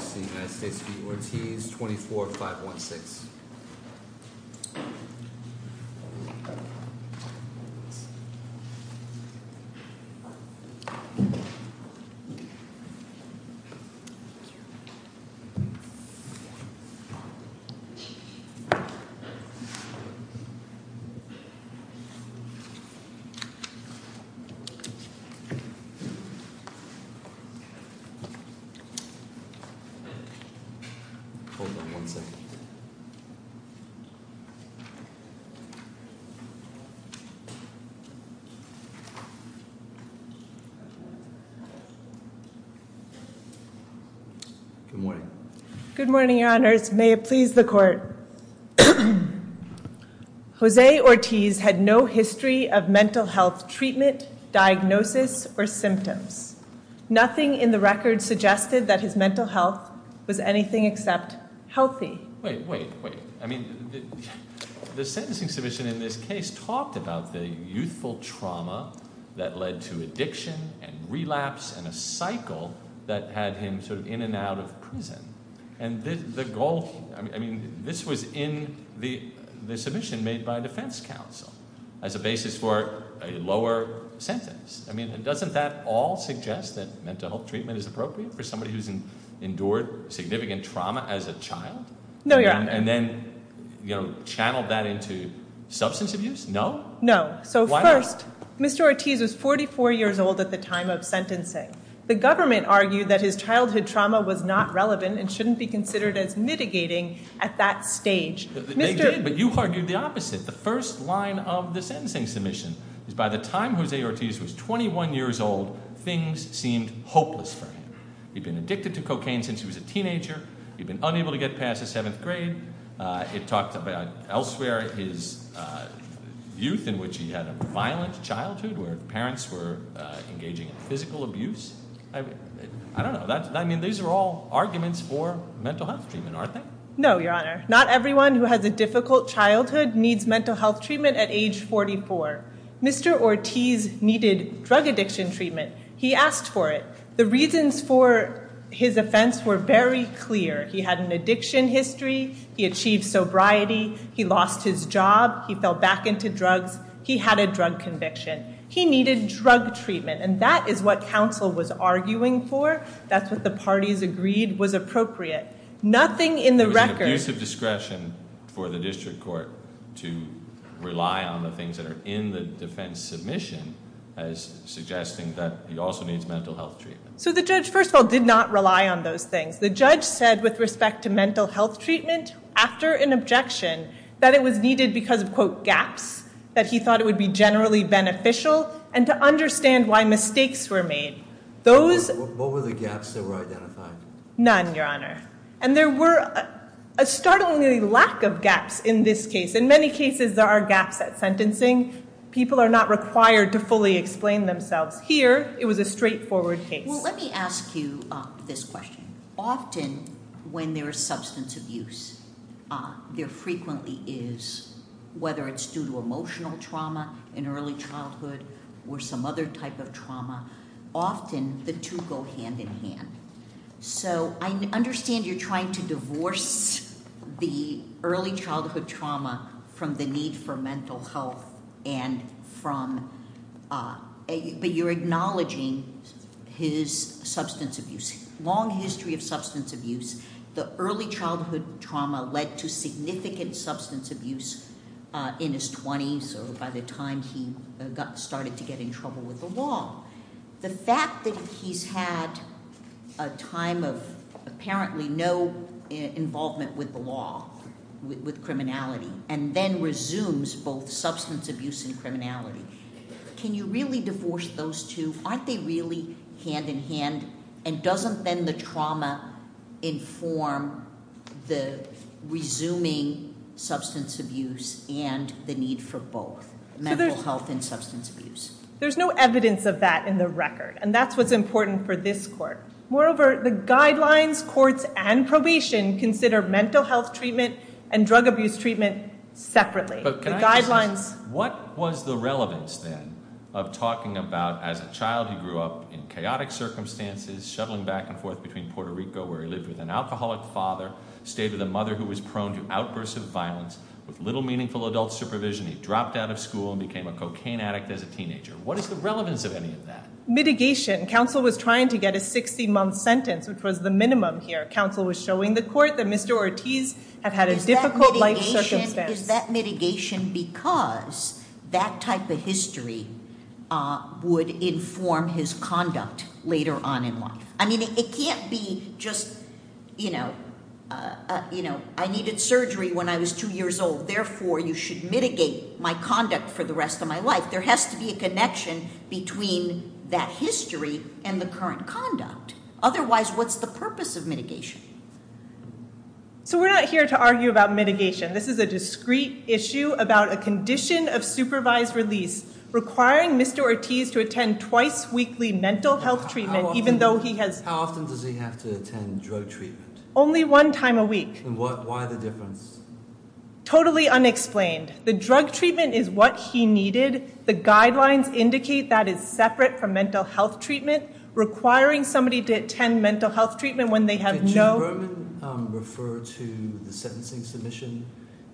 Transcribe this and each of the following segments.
24-516. Hold on one second. Good morning. Good morning, Your Honors. May it please the Court. Jose Ortiz had no history of mental health treatment, diagnosis, or symptoms. Nothing in the record suggested that his mental health was anything except healthy. Wait, wait, wait. I mean, the sentencing submission in this case talked about the youthful trauma that led to addiction and relapse and a cycle that had him sort of in and out of prison. And the goal, I mean, this was in the submission made by defense counsel as a basis for a lower sentence. I mean, doesn't that all suggest that mental health treatment is appropriate for somebody who's endured significant trauma as a child? No, Your Honor. And then, you know, channel that into substance abuse? No? No. So first, Mr. Ortiz was 44 years old at the time of sentencing. The government argued that his childhood trauma was not relevant and shouldn't be considered as mitigating at that stage. They did, but you argued the opposite. The first line of the sentencing submission is by the time Jose Ortiz was 21 years old, things seemed hopeless for him. He'd been addicted to cocaine since he was a teenager. He'd been unable to get past the seventh grade. It talked about elsewhere his youth in which he had a violent childhood where parents were engaging in physical abuse. I don't know. I mean, these are all arguments for mental health treatment, aren't they? No, Your Honor. Not everyone who has a difficult childhood needs mental health treatment at age 44. Mr. Ortiz needed drug addiction treatment. He asked for it. The reasons for his offense were very clear. He had an addiction history. He achieved sobriety. He lost his job. He fell back into drugs. He had a drug conviction. He needed drug treatment, and that is what counsel was arguing for. That's what the parties agreed was appropriate. Nothing in the record. There was an abuse of discretion for the district court to rely on the things that are in the defense submission as suggesting that he also needs mental health treatment. So the judge, first of all, did not rely on those things. The judge said with respect to mental health treatment after an objection that it was needed because of, quote, gaps, that he thought it would be generally beneficial, and to understand why mistakes were made. What were the gaps that were identified? None, Your Honor. And there were a startling lack of gaps in this case. In many cases there are gaps at sentencing. People are not required to fully explain themselves. Here it was a straightforward case. Well, let me ask you this question. Often when there is substance abuse, there frequently is, whether it's due to emotional trauma in early childhood or some other type of trauma, often the two go hand in hand. So I understand you're trying to divorce the early childhood trauma from the need for mental health, but you're acknowledging his substance abuse. In his long history of substance abuse, the early childhood trauma led to significant substance abuse in his 20s or by the time he started to get in trouble with the law. The fact that he's had a time of apparently no involvement with the law, with criminality, and then resumes both substance abuse and criminality, can you really divorce those two? Aren't they really hand in hand? And doesn't then the trauma inform the resuming substance abuse and the need for both, mental health and substance abuse? There's no evidence of that in the record, and that's what's important for this court. Moreover, the guidelines, courts, and probation consider mental health treatment and drug abuse treatment separately. What was the relevance then of talking about as a child he grew up in chaotic circumstances, shuttling back and forth between Puerto Rico where he lived with an alcoholic father, stayed with a mother who was prone to outbursts of violence, with little meaningful adult supervision, he dropped out of school and became a cocaine addict as a teenager. What is the relevance of any of that? Mitigation. Counsel was trying to get a 60-month sentence, which was the minimum here. Counsel was showing the court that Mr. Ortiz had had a difficult life circumstance. Is that mitigation because that type of history would inform his conduct later on in life? I mean, it can't be just, you know, I needed surgery when I was 2 years old, therefore you should mitigate my conduct for the rest of my life. There has to be a connection between that history and the current conduct. Otherwise, what's the purpose of mitigation? So we're not here to argue about mitigation. This is a discrete issue about a condition of supervised release requiring Mr. Ortiz to attend twice-weekly mental health treatment even though he has... How often does he have to attend drug treatment? Only one time a week. And why the difference? Totally unexplained. The drug treatment is what he needed. The guidelines indicate that is separate from mental health treatment. Requiring somebody to attend mental health treatment when they have no...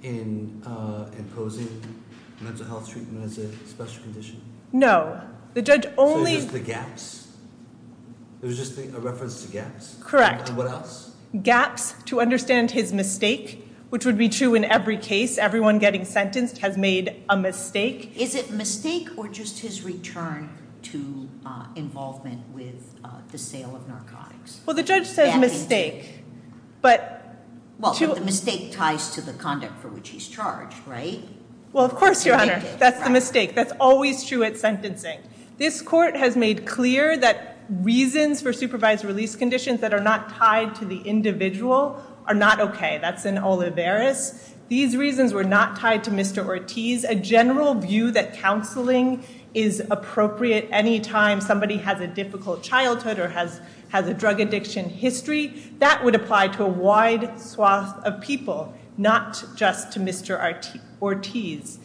in imposing mental health treatment as a special condition? No. The judge only... So it's just the gaps? It was just a reference to gaps? Correct. And what else? Gaps to understand his mistake, which would be true in every case. Everyone getting sentenced has made a mistake. Is it mistake or just his return to involvement with the sale of narcotics? Well, the judge says mistake, but... Well, the mistake ties to the conduct for which he's charged, right? Well, of course, Your Honor. That's the mistake. That's always true at sentencing. This court has made clear that reasons for supervised release conditions that are not tied to the individual are not okay. That's in Olivares. These reasons were not tied to Mr. Ortiz. A general view that counseling is appropriate any time somebody has a difficult childhood or has a drug addiction history, that would apply to a wide swath of people, not just to Mr. Ortiz.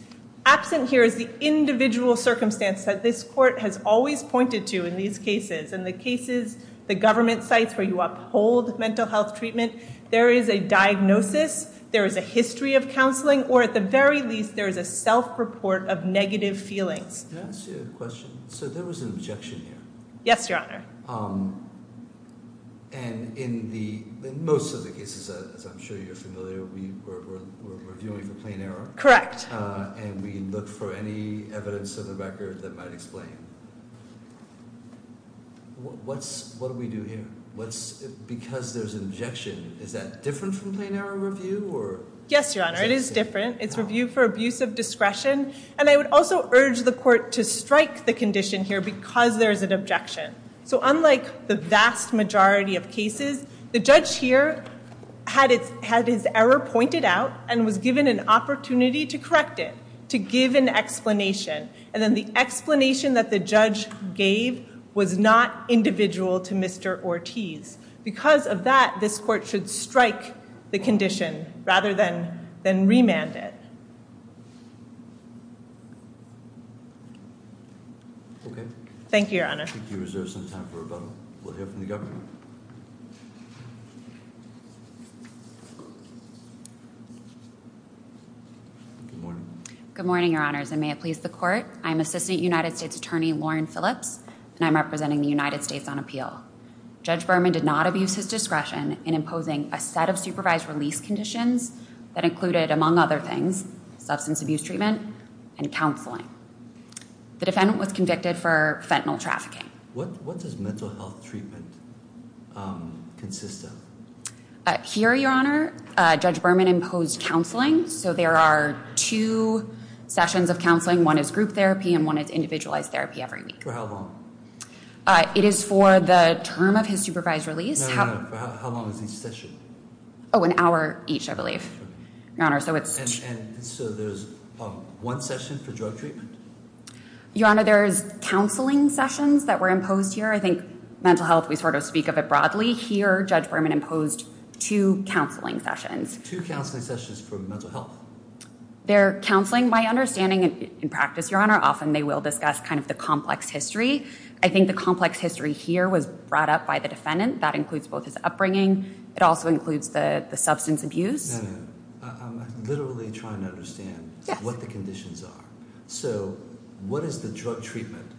Absent here is the individual circumstance that this court has always pointed to in these cases. In the cases, the government sites where you uphold mental health treatment, there is a diagnosis, there is a history of counseling, or at the very least, there is a self-report of negative feelings. Can I ask you a question? So there was an objection here. Yes, Your Honor. And in most of the cases, as I'm sure you're familiar, we're reviewing for plain error. Correct. And we look for any evidence of the record that might explain. What do we do here? Because there's an objection, is that different from plain error review? Yes, Your Honor. It is different. It's review for abuse of discretion. And I would also urge the court to strike the condition here because there is an objection. So unlike the vast majority of cases, the judge here had his error pointed out and was given an opportunity to correct it, to give an explanation. And then the explanation that the judge gave was not individual to Mr. Ortiz. Because of that, this court should strike the condition rather than remand it. Okay. Thank you, Your Honor. Thank you. Is there some time for rebuttal? We'll hear from the governor. Good morning. Good morning, Your Honors, and may it please the court. I'm Assistant United States Attorney Lauren Phillips, and I'm representing the United States on appeal. Judge Berman did not abuse his discretion in imposing a set of supervised release conditions that included, among other things, substance abuse treatment and counseling. The defendant was convicted for fentanyl trafficking. What does mental health treatment consist of? Here, Your Honor, Judge Berman imposed counseling. So there are two sessions of counseling. One is group therapy and one is individualized therapy every week. For how long? It is for the term of his supervised release. No, no, no. For how long is each session? Oh, an hour each, I believe, Your Honor. And so there's one session for drug treatment? Your Honor, there's counseling sessions that were imposed here. I think mental health, we sort of speak of it broadly. Here, Judge Berman imposed two counseling sessions. Two counseling sessions for mental health? They're counseling by understanding, in practice, Your Honor, often they will discuss kind of the complex history. I think the complex history here was brought up by the defendant. That includes both his upbringing. It also includes the substance abuse. No, no. I'm literally trying to understand what the conditions are. So what is the drug treatment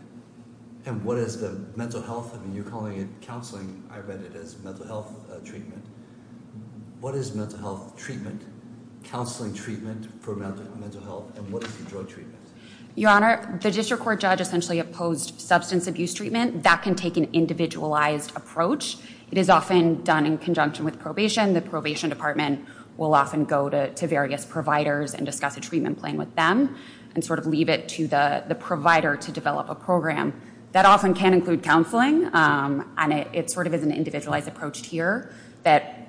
and what is the mental health? I mean, you're calling it counseling. I read it as mental health treatment. What is mental health treatment, counseling treatment for mental health, and what is the drug treatment? Your Honor, the district court judge essentially opposed substance abuse treatment. That can take an individualized approach. It is often done in conjunction with probation. The probation department will often go to various providers and discuss a treatment plan with them and sort of leave it to the provider to develop a program. That often can include counseling, and it sort of is an individualized approach here that,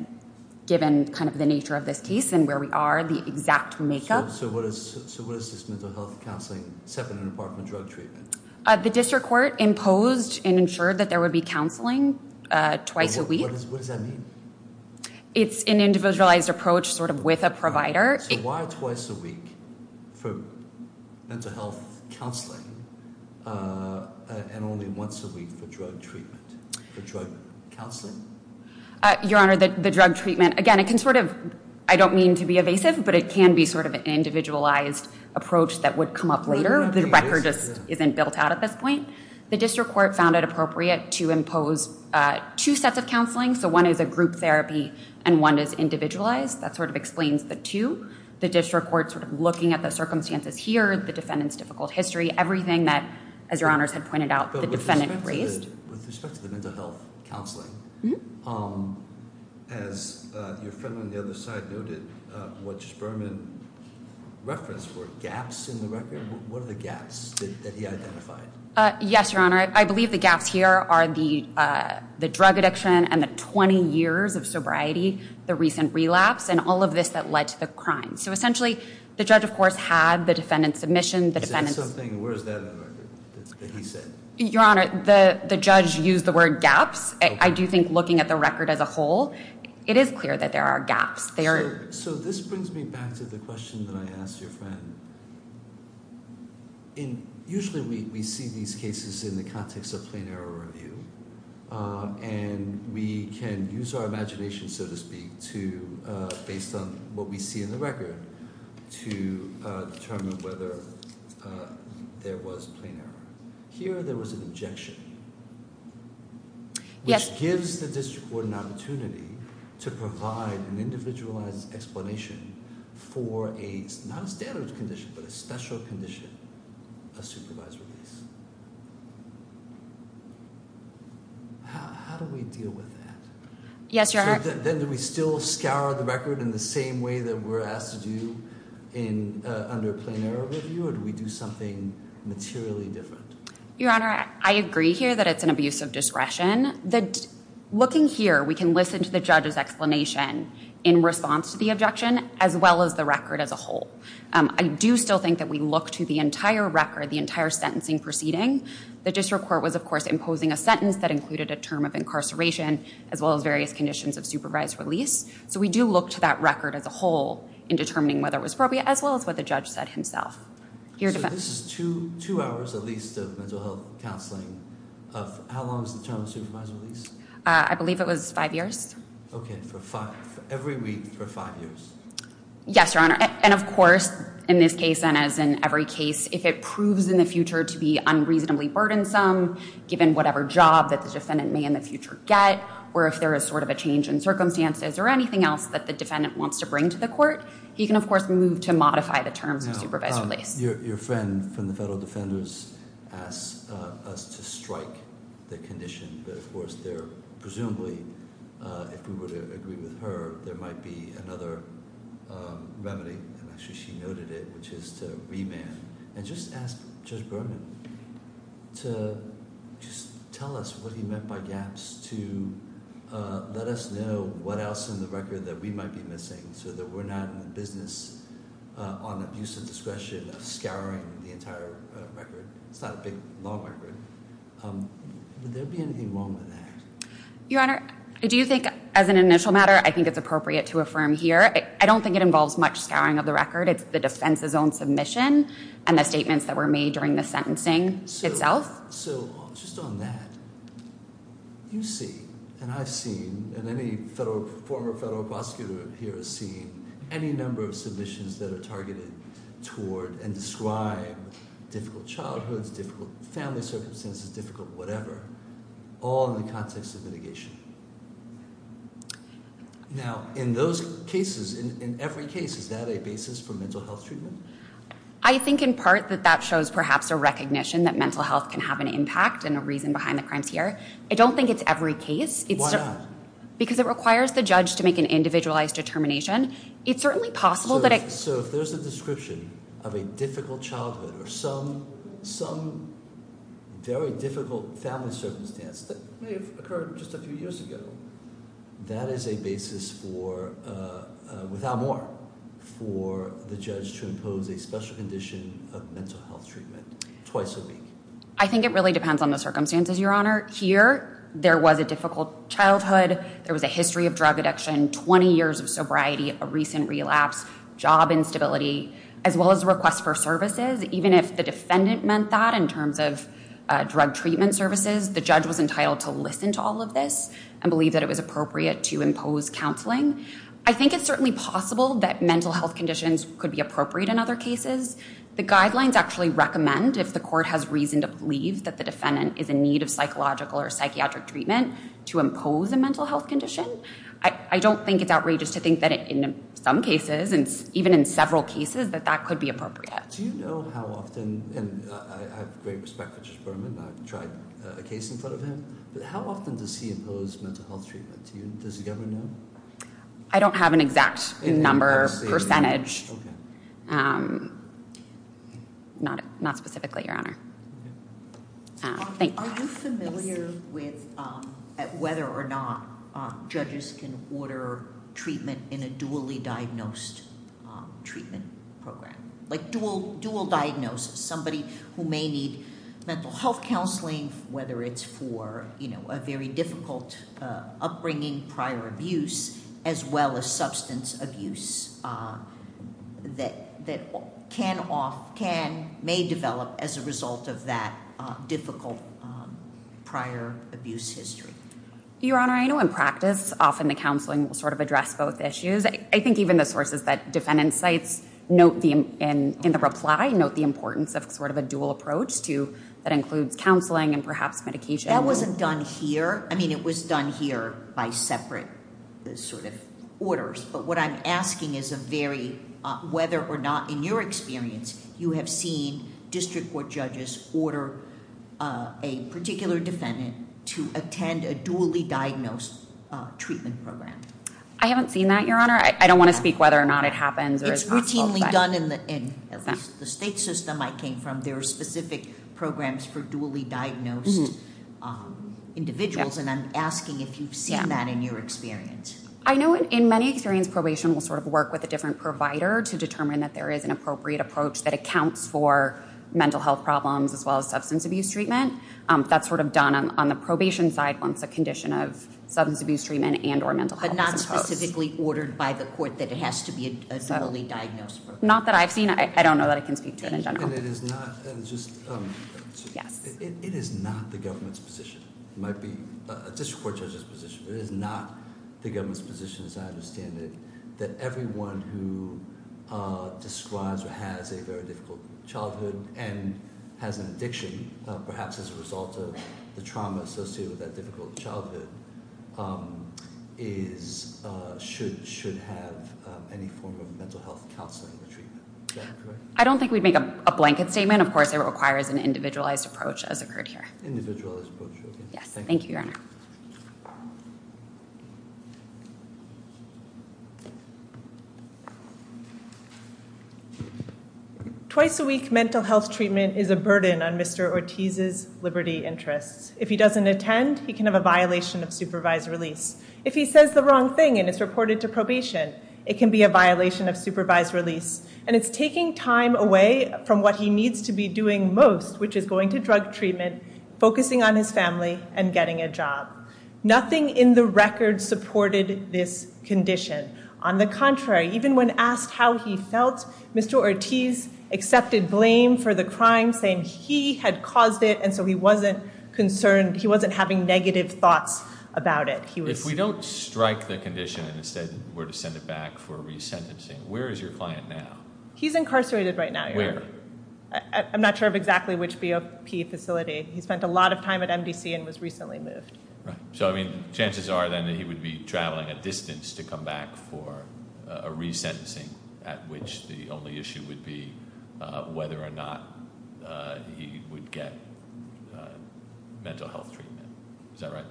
given kind of the nature of this case and where we are, the exact makeup. So what is this mental health counseling separate from drug treatment? The district court imposed and ensured that there would be counseling twice a week. What does that mean? It's an individualized approach sort of with a provider. So why twice a week for mental health counseling and only once a week for drug treatment, for drug counseling? Your Honor, the drug treatment, again, it can sort of, I don't mean to be evasive, but it can be sort of an individualized approach that would come up later. The record just isn't built out at this point. The district court found it appropriate to impose two sets of counseling. So one is a group therapy and one is individualized. That sort of explains the two. The district court sort of looking at the circumstances here, the defendant's difficult history, everything that, as Your Honors had pointed out, the defendant raised. With respect to the mental health counseling, as your friend on the other side noted, what Judge Berman referenced were gaps in the record. What are the gaps that he identified? Yes, Your Honor. I believe the gaps here are the drug addiction and the 20 years of sobriety, the recent relapse, and all of this that led to the crime. So essentially the judge, of course, had the defendant's submission. He said something. Where is that on the record that he said? Your Honor, the judge used the word gaps. I do think looking at the record as a whole, it is clear that there are gaps. So this brings me back to the question that I asked your friend. Usually we see these cases in the context of plain error review, and we can use our imagination, so to speak, based on what we see in the record to determine whether there was plain error. Here there was an injection, which gives the district court an opportunity to provide an individualized explanation for a, not a standard condition, but a special condition, a supervised release. How do we deal with that? Yes, Your Honor. Then do we still scour the record in the same way that we're asked to do under plain error review, or do we do something materially different? Your Honor, I agree here that it's an abuse of discretion. Looking here, we can listen to the judge's explanation in response to the objection, as well as the record as a whole. I do still think that we look to the entire record, the entire sentencing proceeding. The district court was, of course, imposing a sentence that included a term of incarceration, as well as various conditions of supervised release. So we do look to that record as a whole in determining whether it was appropriate, as well as what the judge said himself. So this is two hours, at least, of mental health counseling. How long is the term of supervised release? I believe it was five years. Okay, every week for five years. Yes, Your Honor. And of course, in this case and as in every case, if it proves in the future to be unreasonably burdensome, given whatever job that the defendant may in the future get, or if there is sort of a change in circumstances or anything else that the defendant wants to bring to the court, he can, of course, move to modify the terms of supervised release. Your friend from the Federal Defenders asked us to strike the condition. Of course, there presumably, if we were to agree with her, there might be another remedy, and actually she noted it, which is to remand. And just ask Judge Berman to just tell us what he meant by gaps, to let us know what else in the record that we might be missing so that we're not in the business, on abuse of discretion, of scouring the entire record. It's not a big law record. Would there be anything wrong with that? Your Honor, do you think, as an initial matter, I think it's appropriate to affirm here. I don't think it involves much scouring of the record. It's the defense's own submission and the statements that were made during the sentencing itself. So just on that, you see and I've seen and any former federal prosecutor here has seen any number of submissions that are targeted toward and describe difficult childhoods, difficult family circumstances, difficult whatever, all in the context of litigation. Now, in those cases, in every case, is that a basis for mental health treatment? I think in part that that shows perhaps a recognition that mental health can have an impact and a reason behind the crimes here. I don't think it's every case. Why not? Because it requires the judge to make an individualized determination. It's certainly possible that it... So if there's a description of a difficult childhood or some very difficult family circumstance that may have occurred just a few years ago, that is a basis for, without more, for the judge to impose a special condition of mental health treatment twice a week. I think it really depends on the circumstances, Your Honor. Here, there was a difficult childhood. There was a history of drug addiction, 20 years of sobriety, a recent relapse, job instability, as well as a request for services. Even if the defendant meant that in terms of drug treatment services, the judge was entitled to listen to all of this and believe that it was appropriate to impose counseling. I think it's certainly possible that mental health conditions could be appropriate in other cases. The guidelines actually recommend, if the court has reason to believe that the defendant is in need of psychological or psychiatric treatment, to impose a mental health condition. I don't think it's outrageous to think that in some cases, and even in several cases, that that could be appropriate. Do you know how often... And I have great respect for Judge Berman. I've tried a case in front of him. But how often does he impose mental health treatment? Does the government know? I don't have an exact number, percentage. Not specifically, Your Honor. Thank you. Are you familiar with whether or not judges can order treatment in a dually diagnosed treatment program? Like, dual diagnosis. Somebody who may need mental health counseling, whether it's for a very difficult upbringing, prior abuse, as well as substance abuse, that may develop as a result of that difficult prior abuse history. Your Honor, I know in practice, often the counseling will sort of address both issues. I think even the sources that defendant cites, in the reply, note the importance of sort of a dual approach that includes counseling and perhaps medication. That wasn't done here. I mean, it was done here by separate sort of orders. But what I'm asking is whether or not, in your experience, you have seen district court judges order a particular defendant to attend a dually diagnosed treatment program. I haven't seen that, Your Honor. I don't want to speak whether or not it happens. It's routinely done in the state system I came from. There are specific programs for dually diagnosed individuals. And I'm asking if you've seen that in your experience. I know in many experience, probation will sort of work with a different provider to determine that there is an appropriate approach that accounts for mental health problems as well as substance abuse treatment. That's sort of done on the probation side once a condition of substance abuse treatment and or mental health is imposed. But not specifically ordered by the court that it has to be a dually diagnosed program. Not that I've seen it. I don't know that I can speak to it in general. It is not the government's position. It might be a district court judge's position. It is not the government's position, as I understand it, that everyone who describes or has a very difficult childhood and has an addiction, perhaps as a result of the trauma associated with that difficult childhood, should have any form of mental health counseling or treatment. I don't think we'd make a blanket statement. Of course, it requires an individualized approach, as occurred here. Individualized approach, okay. Yes, thank you, Your Honor. Twice a week, mental health treatment is a burden on Mr. Ortiz's liberty interests. If he doesn't attend, he can have a violation of supervised release. If he says the wrong thing and it's reported to probation, it can be a violation of supervised release, and it's taking time away from what he needs to be doing most, which is going to drug treatment, focusing on his family, and getting a job. Nothing in the record supported this condition. On the contrary, even when asked how he felt, Mr. Ortiz accepted blame for the crime, saying he had caused it, and so he wasn't concerned. He wasn't having negative thoughts about it. If we don't strike the condition and instead were to send it back for resentencing, where is your client now? He's incarcerated right now, Your Honor. I'm not sure of exactly which BOP facility. He spent a lot of time at MDC and was recently moved. Right. So, I mean, chances are, then, that he would be traveling a distance to come back for a resentencing at which the only issue would be whether or not he would get mental health treatment. Is that right?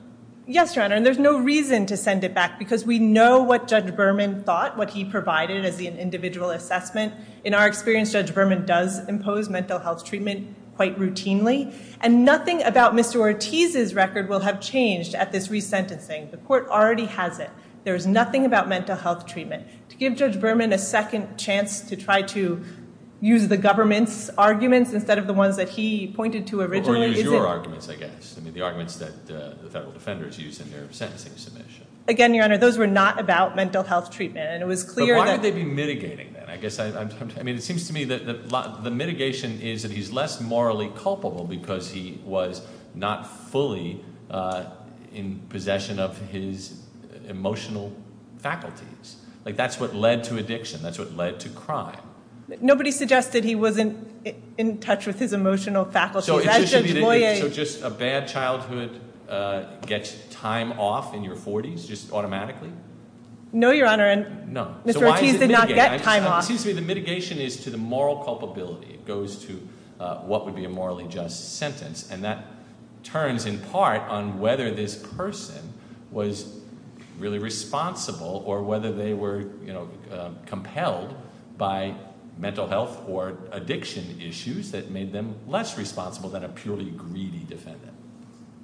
Yes, Your Honor, and there's no reason to send it back because we know what Judge Berman thought, what he provided as an individual assessment. In our experience, Judge Berman does impose mental health treatment quite routinely, and nothing about Mr. Ortiz's record will have changed at this resentencing. The court already has it. There is nothing about mental health treatment. To give Judge Berman a second chance to try to use the government's arguments instead of the ones that he pointed to originally... Or use your arguments, I guess. I mean, the arguments that the federal defenders use in their sentencing submission. Again, Your Honor, those were not about mental health treatment, and it was clear that... But why would they be mitigating that? I mean, it seems to me that the mitigation is that he's less morally culpable because he was not fully in possession of his emotional faculties. Like, that's what led to addiction. That's what led to crime. Nobody suggested he wasn't in touch with his emotional faculties. So just a bad childhood gets time off in your 40s, just automatically? No, Your Honor. No. Mr. Ortiz did not get time off. It seems to me the mitigation is to the moral culpability. It goes to what would be a morally just sentence. And that turns, in part, on whether this person was really responsible or whether they were compelled by mental health or addiction issues that made them less responsible than a purely greedy defendant.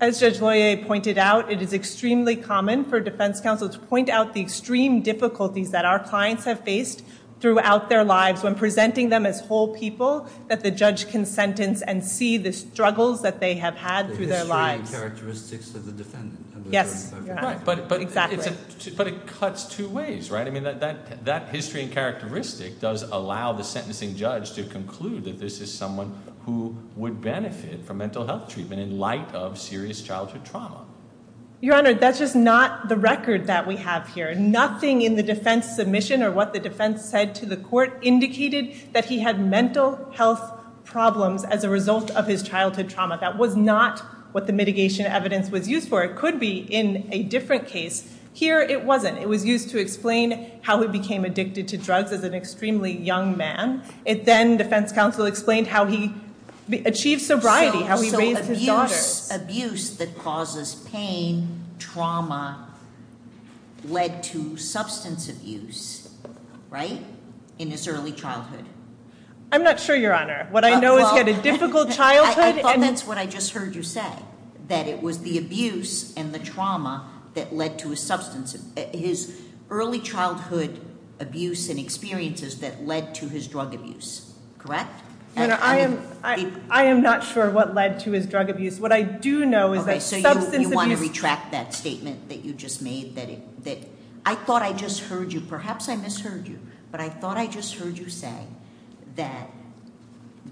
As Judge Loyer pointed out, it is extremely common for defense counsels to point out the extreme difficulties that our clients have faced throughout their lives when presenting them as whole people that the judge can sentence and see the struggles that they have had through their lives. The history and characteristics of the defendant. Exactly. But it cuts two ways, right? I mean, that history and characteristic does allow the sentencing judge to conclude that this is someone who would benefit from mental health treatment in light of serious childhood trauma. Your Honor, that's just not the record that we have here. Nothing in the defense submission or what the defense said to the court indicated that he had mental health problems as a result of his childhood trauma. That was not what the mitigation evidence was used for. It could be in a different case. Here, it wasn't. It was used to explain how he became addicted to drugs as an extremely young man. Then defense counsel explained how he achieved sobriety, how he raised his daughter. Abuse that causes pain, trauma, led to substance abuse, right? In his early childhood. I'm not sure, Your Honor. What I know is he had a difficult childhood. I thought that's what I just heard you say, that it was the abuse and the trauma that led to his substance abuse, his early childhood abuse and experiences that led to his drug abuse. Correct? I am not sure what led to his drug abuse. What I do know is that substance abuse... You want to retract that statement that you just made? I thought I just heard you, perhaps I misheard you, but I thought I just heard you say that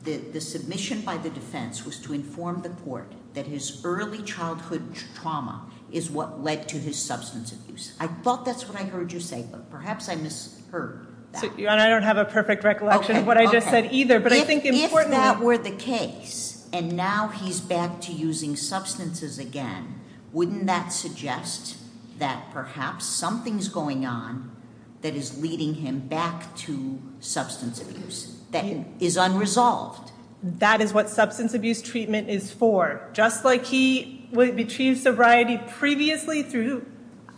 the submission by the defense was to inform the court that his early childhood trauma is what led to his substance abuse. I thought that's what I heard you say, but perhaps I misheard that. I don't have a perfect recollection of what I just said either, but I think... If that were the case, and now he's back to using substances again, wouldn't that suggest that perhaps something's going on that is leading him back to substance abuse that is unresolved? That is what substance abuse treatment is for. Just like he retrieved sobriety previously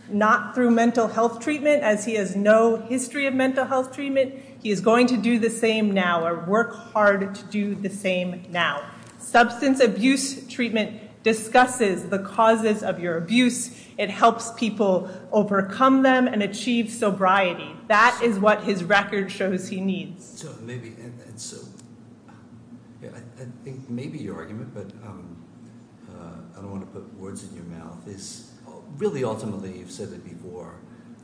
not through mental health treatment, as he has no history of mental health treatment, he is going to do the same now, or work hard to do the same now. Substance abuse treatment discusses the causes of your abuse. It helps people overcome them and achieve sobriety. That is what his record shows he needs. So maybe... I think maybe your argument, but I don't want to put words in your mouth, is really ultimately, you've said it before,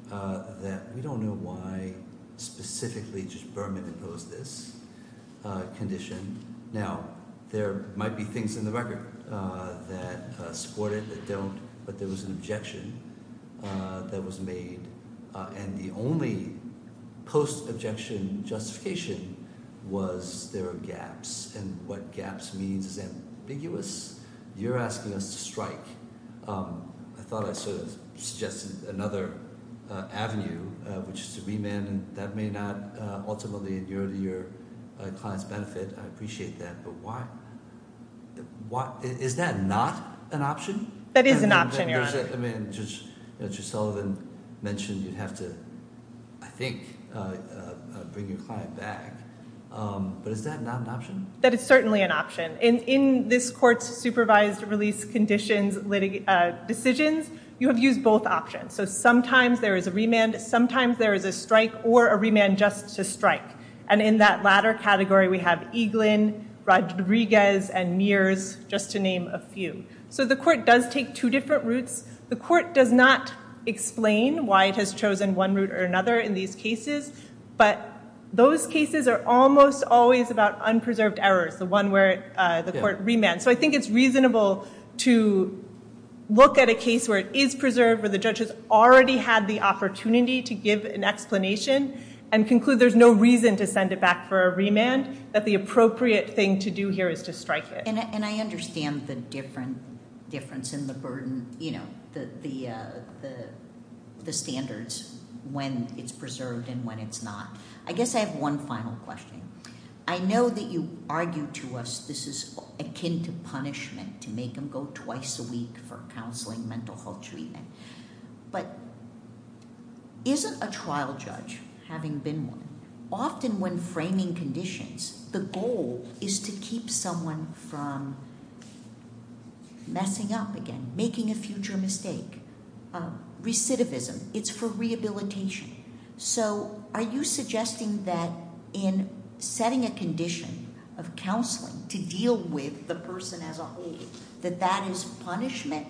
that we don't know why specifically just Berman imposed this condition. Now, there might be things in the record that support it, that don't, but there was an objection that was made, and the only post-objection justification was there are gaps, and what gaps means is ambiguous. You're asking us to strike. I thought I sort of suggested another avenue, which is to remand, and that may not ultimately endure to your client's benefit. I appreciate that, but why... Is that not an option? That is an option, Your Honor. Judge Sullivan mentioned you'd have to, I think, bring your client back, but is that not an option? That is certainly an option. In this court's supervised release conditions, decisions, you have used both options. So sometimes there is a remand, sometimes there is a strike, or a remand just to strike, and in that latter category, we have Eaglin, Rodriguez, and Mears, just to name a few. So the court does take two different routes. The court does not explain why it has chosen one route or another in these cases, but those cases are almost always about unpreserved errors, the one where the court remands. So I think it's reasonable to look at a case where it is preserved, where the judge has already had the opportunity to give an explanation and conclude there's no reason to send it back for a remand, that the appropriate thing to do here is to strike it. And I understand the difference in the burden, you know, the standards when it's preserved and when it's not. I guess I have one final question. I know that you argue to us this is akin to punishment, to make them go twice a week for counseling, mental health treatment. But isn't a trial judge, having been one, often when framing conditions, the goal is to keep someone from messing up again, making a future mistake. Recidivism, it's for rehabilitation. So are you suggesting that in setting a condition of counseling to deal with the person as a whole, that that is punishment?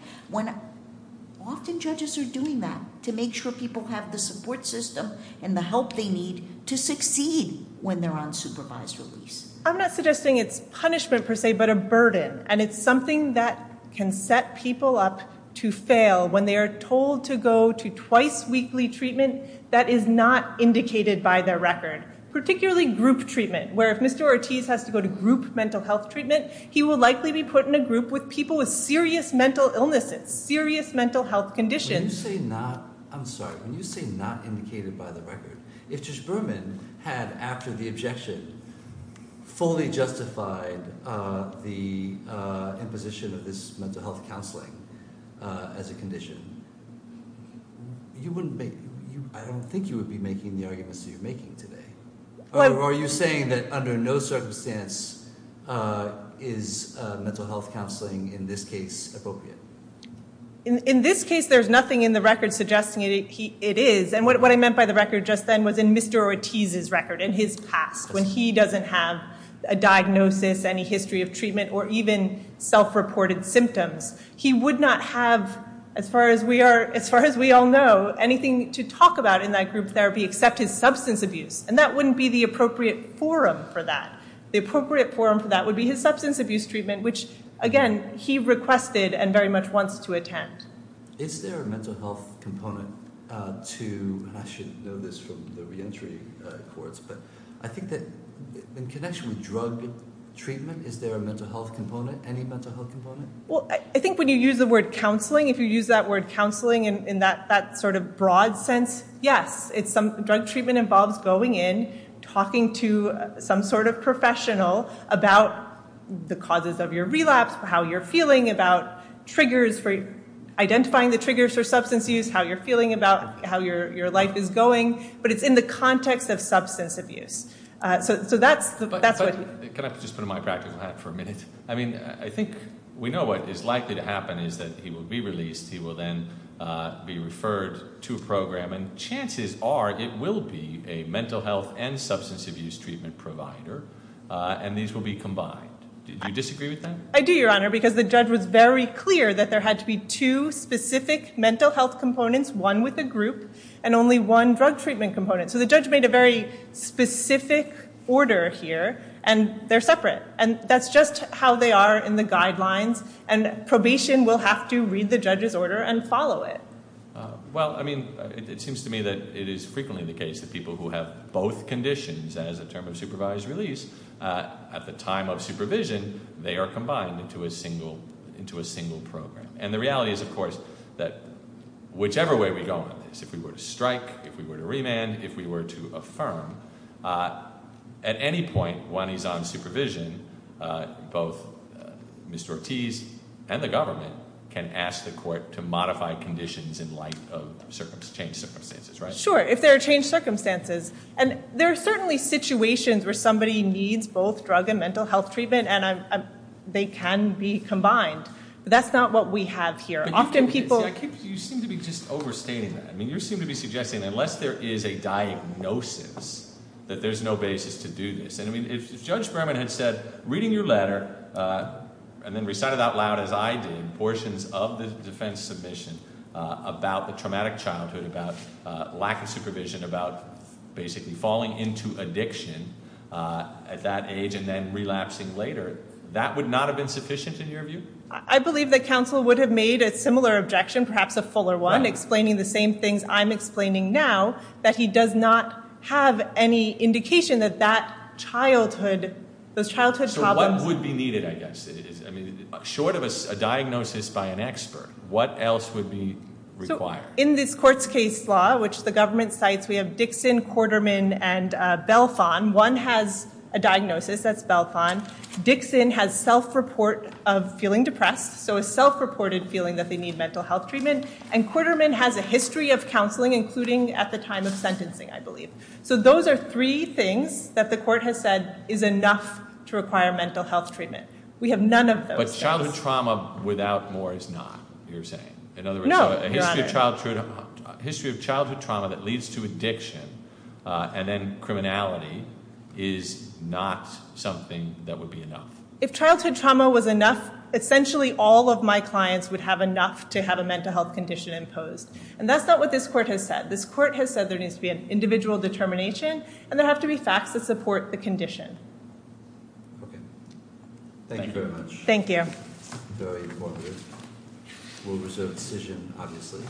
Often judges are doing that to make sure people have the support system and the help they need to succeed when they're on supervised release. I'm not suggesting it's punishment per se, but a burden. And it's something that can set people up to fail when they are told to go to twice weekly treatment that is not indicated by their record. Particularly group treatment, where if Mr. Ortiz has to go to group mental health treatment, he will likely be put in a group with people with serious mental illnesses, serious mental health conditions. When you say not indicated by the record, if Judge Berman had, after the objection, fully justified the imposition of this mental health counseling as a condition, I don't think you would be making the arguments that you're making today. Or are you saying that under no circumstance is mental health counseling in this case appropriate? In this case, there's nothing in the record suggesting it is. And what I meant by the record just then was in Mr. Ortiz's record, in his past, when he doesn't have a diagnosis, any history of treatment, or even self-reported symptoms. He would not have, as far as we all know, anything to talk about in that group therapy except his substance abuse. And that wouldn't be the appropriate forum for that. The appropriate forum for that would be his substance abuse treatment, which, again, he requested and very much wants to attend. Is there a mental health component to, and I should know this from the reentry courts, but I think that in connection with drug treatment, is there a mental health component, any mental health component? Well, I think when you use the word counseling, if you use that word counseling in that sort of broad sense, yes. Drug treatment involves going in, talking to some sort of professional about the causes of your relapse, how you're feeling about triggers, identifying the triggers for substance use, how you're feeling about how your life is going. But it's in the context of substance abuse. So that's what he said. Can I just put on my practical hat for a minute? I mean, I think we know what is likely to happen is that he will be released. He will then be referred to a program, and chances are it will be a mental health and substance abuse treatment provider, and these will be combined. Do you disagree with that? I do, Your Honor, because the judge was very clear that there had to be two specific mental health components, one with a group, and only one drug treatment component. So the judge made a very specific order here, and they're separate. And that's just how they are in the guidelines, and probation will have to read the judge's order and follow it. Well, I mean, it seems to me that it is frequently the case that people who have both conditions as a term of supervised release at the time of supervision, they are combined into a single program. And the reality is, of course, that whichever way we go on this, if we were to strike, if we were to remand, if we were to affirm, at any point when he's on supervision, both Mr. Ortiz and the government can ask the court to modify conditions in light of changed circumstances, right? Sure, if there are changed circumstances. And there are certainly situations where somebody needs both drug and mental health treatment, and they can be combined, but that's not what we have here. Often people... You seem to be just overstating that. I mean, you seem to be suggesting that unless there is a diagnosis, that there's no basis to do this. And, I mean, if Judge Berman had said, reading your letter, and then recite it out loud as I did, portions of the defense submission about the traumatic childhood, about lack of supervision, about basically falling into addiction at that age and then relapsing later, that would not have been sufficient in your view? I believe that counsel would have made a similar objection, perhaps a fuller one, explaining the same things I'm explaining now, that he does not have any indication that that childhood, those childhood problems... So one would be needed, I guess. I mean, short of a diagnosis by an expert, what else would be required? In this court's case law, which the government cites, we have Dixon, Quarterman, and Belfon. One has a diagnosis, that's Belfon. Dixon has self-report of feeling depressed, so a self-reported feeling that they need mental health treatment. And Quarterman has a history of counseling, including at the time of sentencing, I believe. So those are three things that the court has said is enough to require mental health treatment. We have none of those. But childhood trauma without more is not, you're saying. No, Your Honor. A history of childhood trauma that leads to addiction and then criminality is not something that would be enough. If childhood trauma was enough, essentially all of my clients would have enough to have a mental health condition imposed. And that's not what this court has said. This court has said there needs to be an individual determination and there have to be facts that support the condition. Okay. Thank you very much. Thank you. Very informative. We'll reserve a decision, obviously.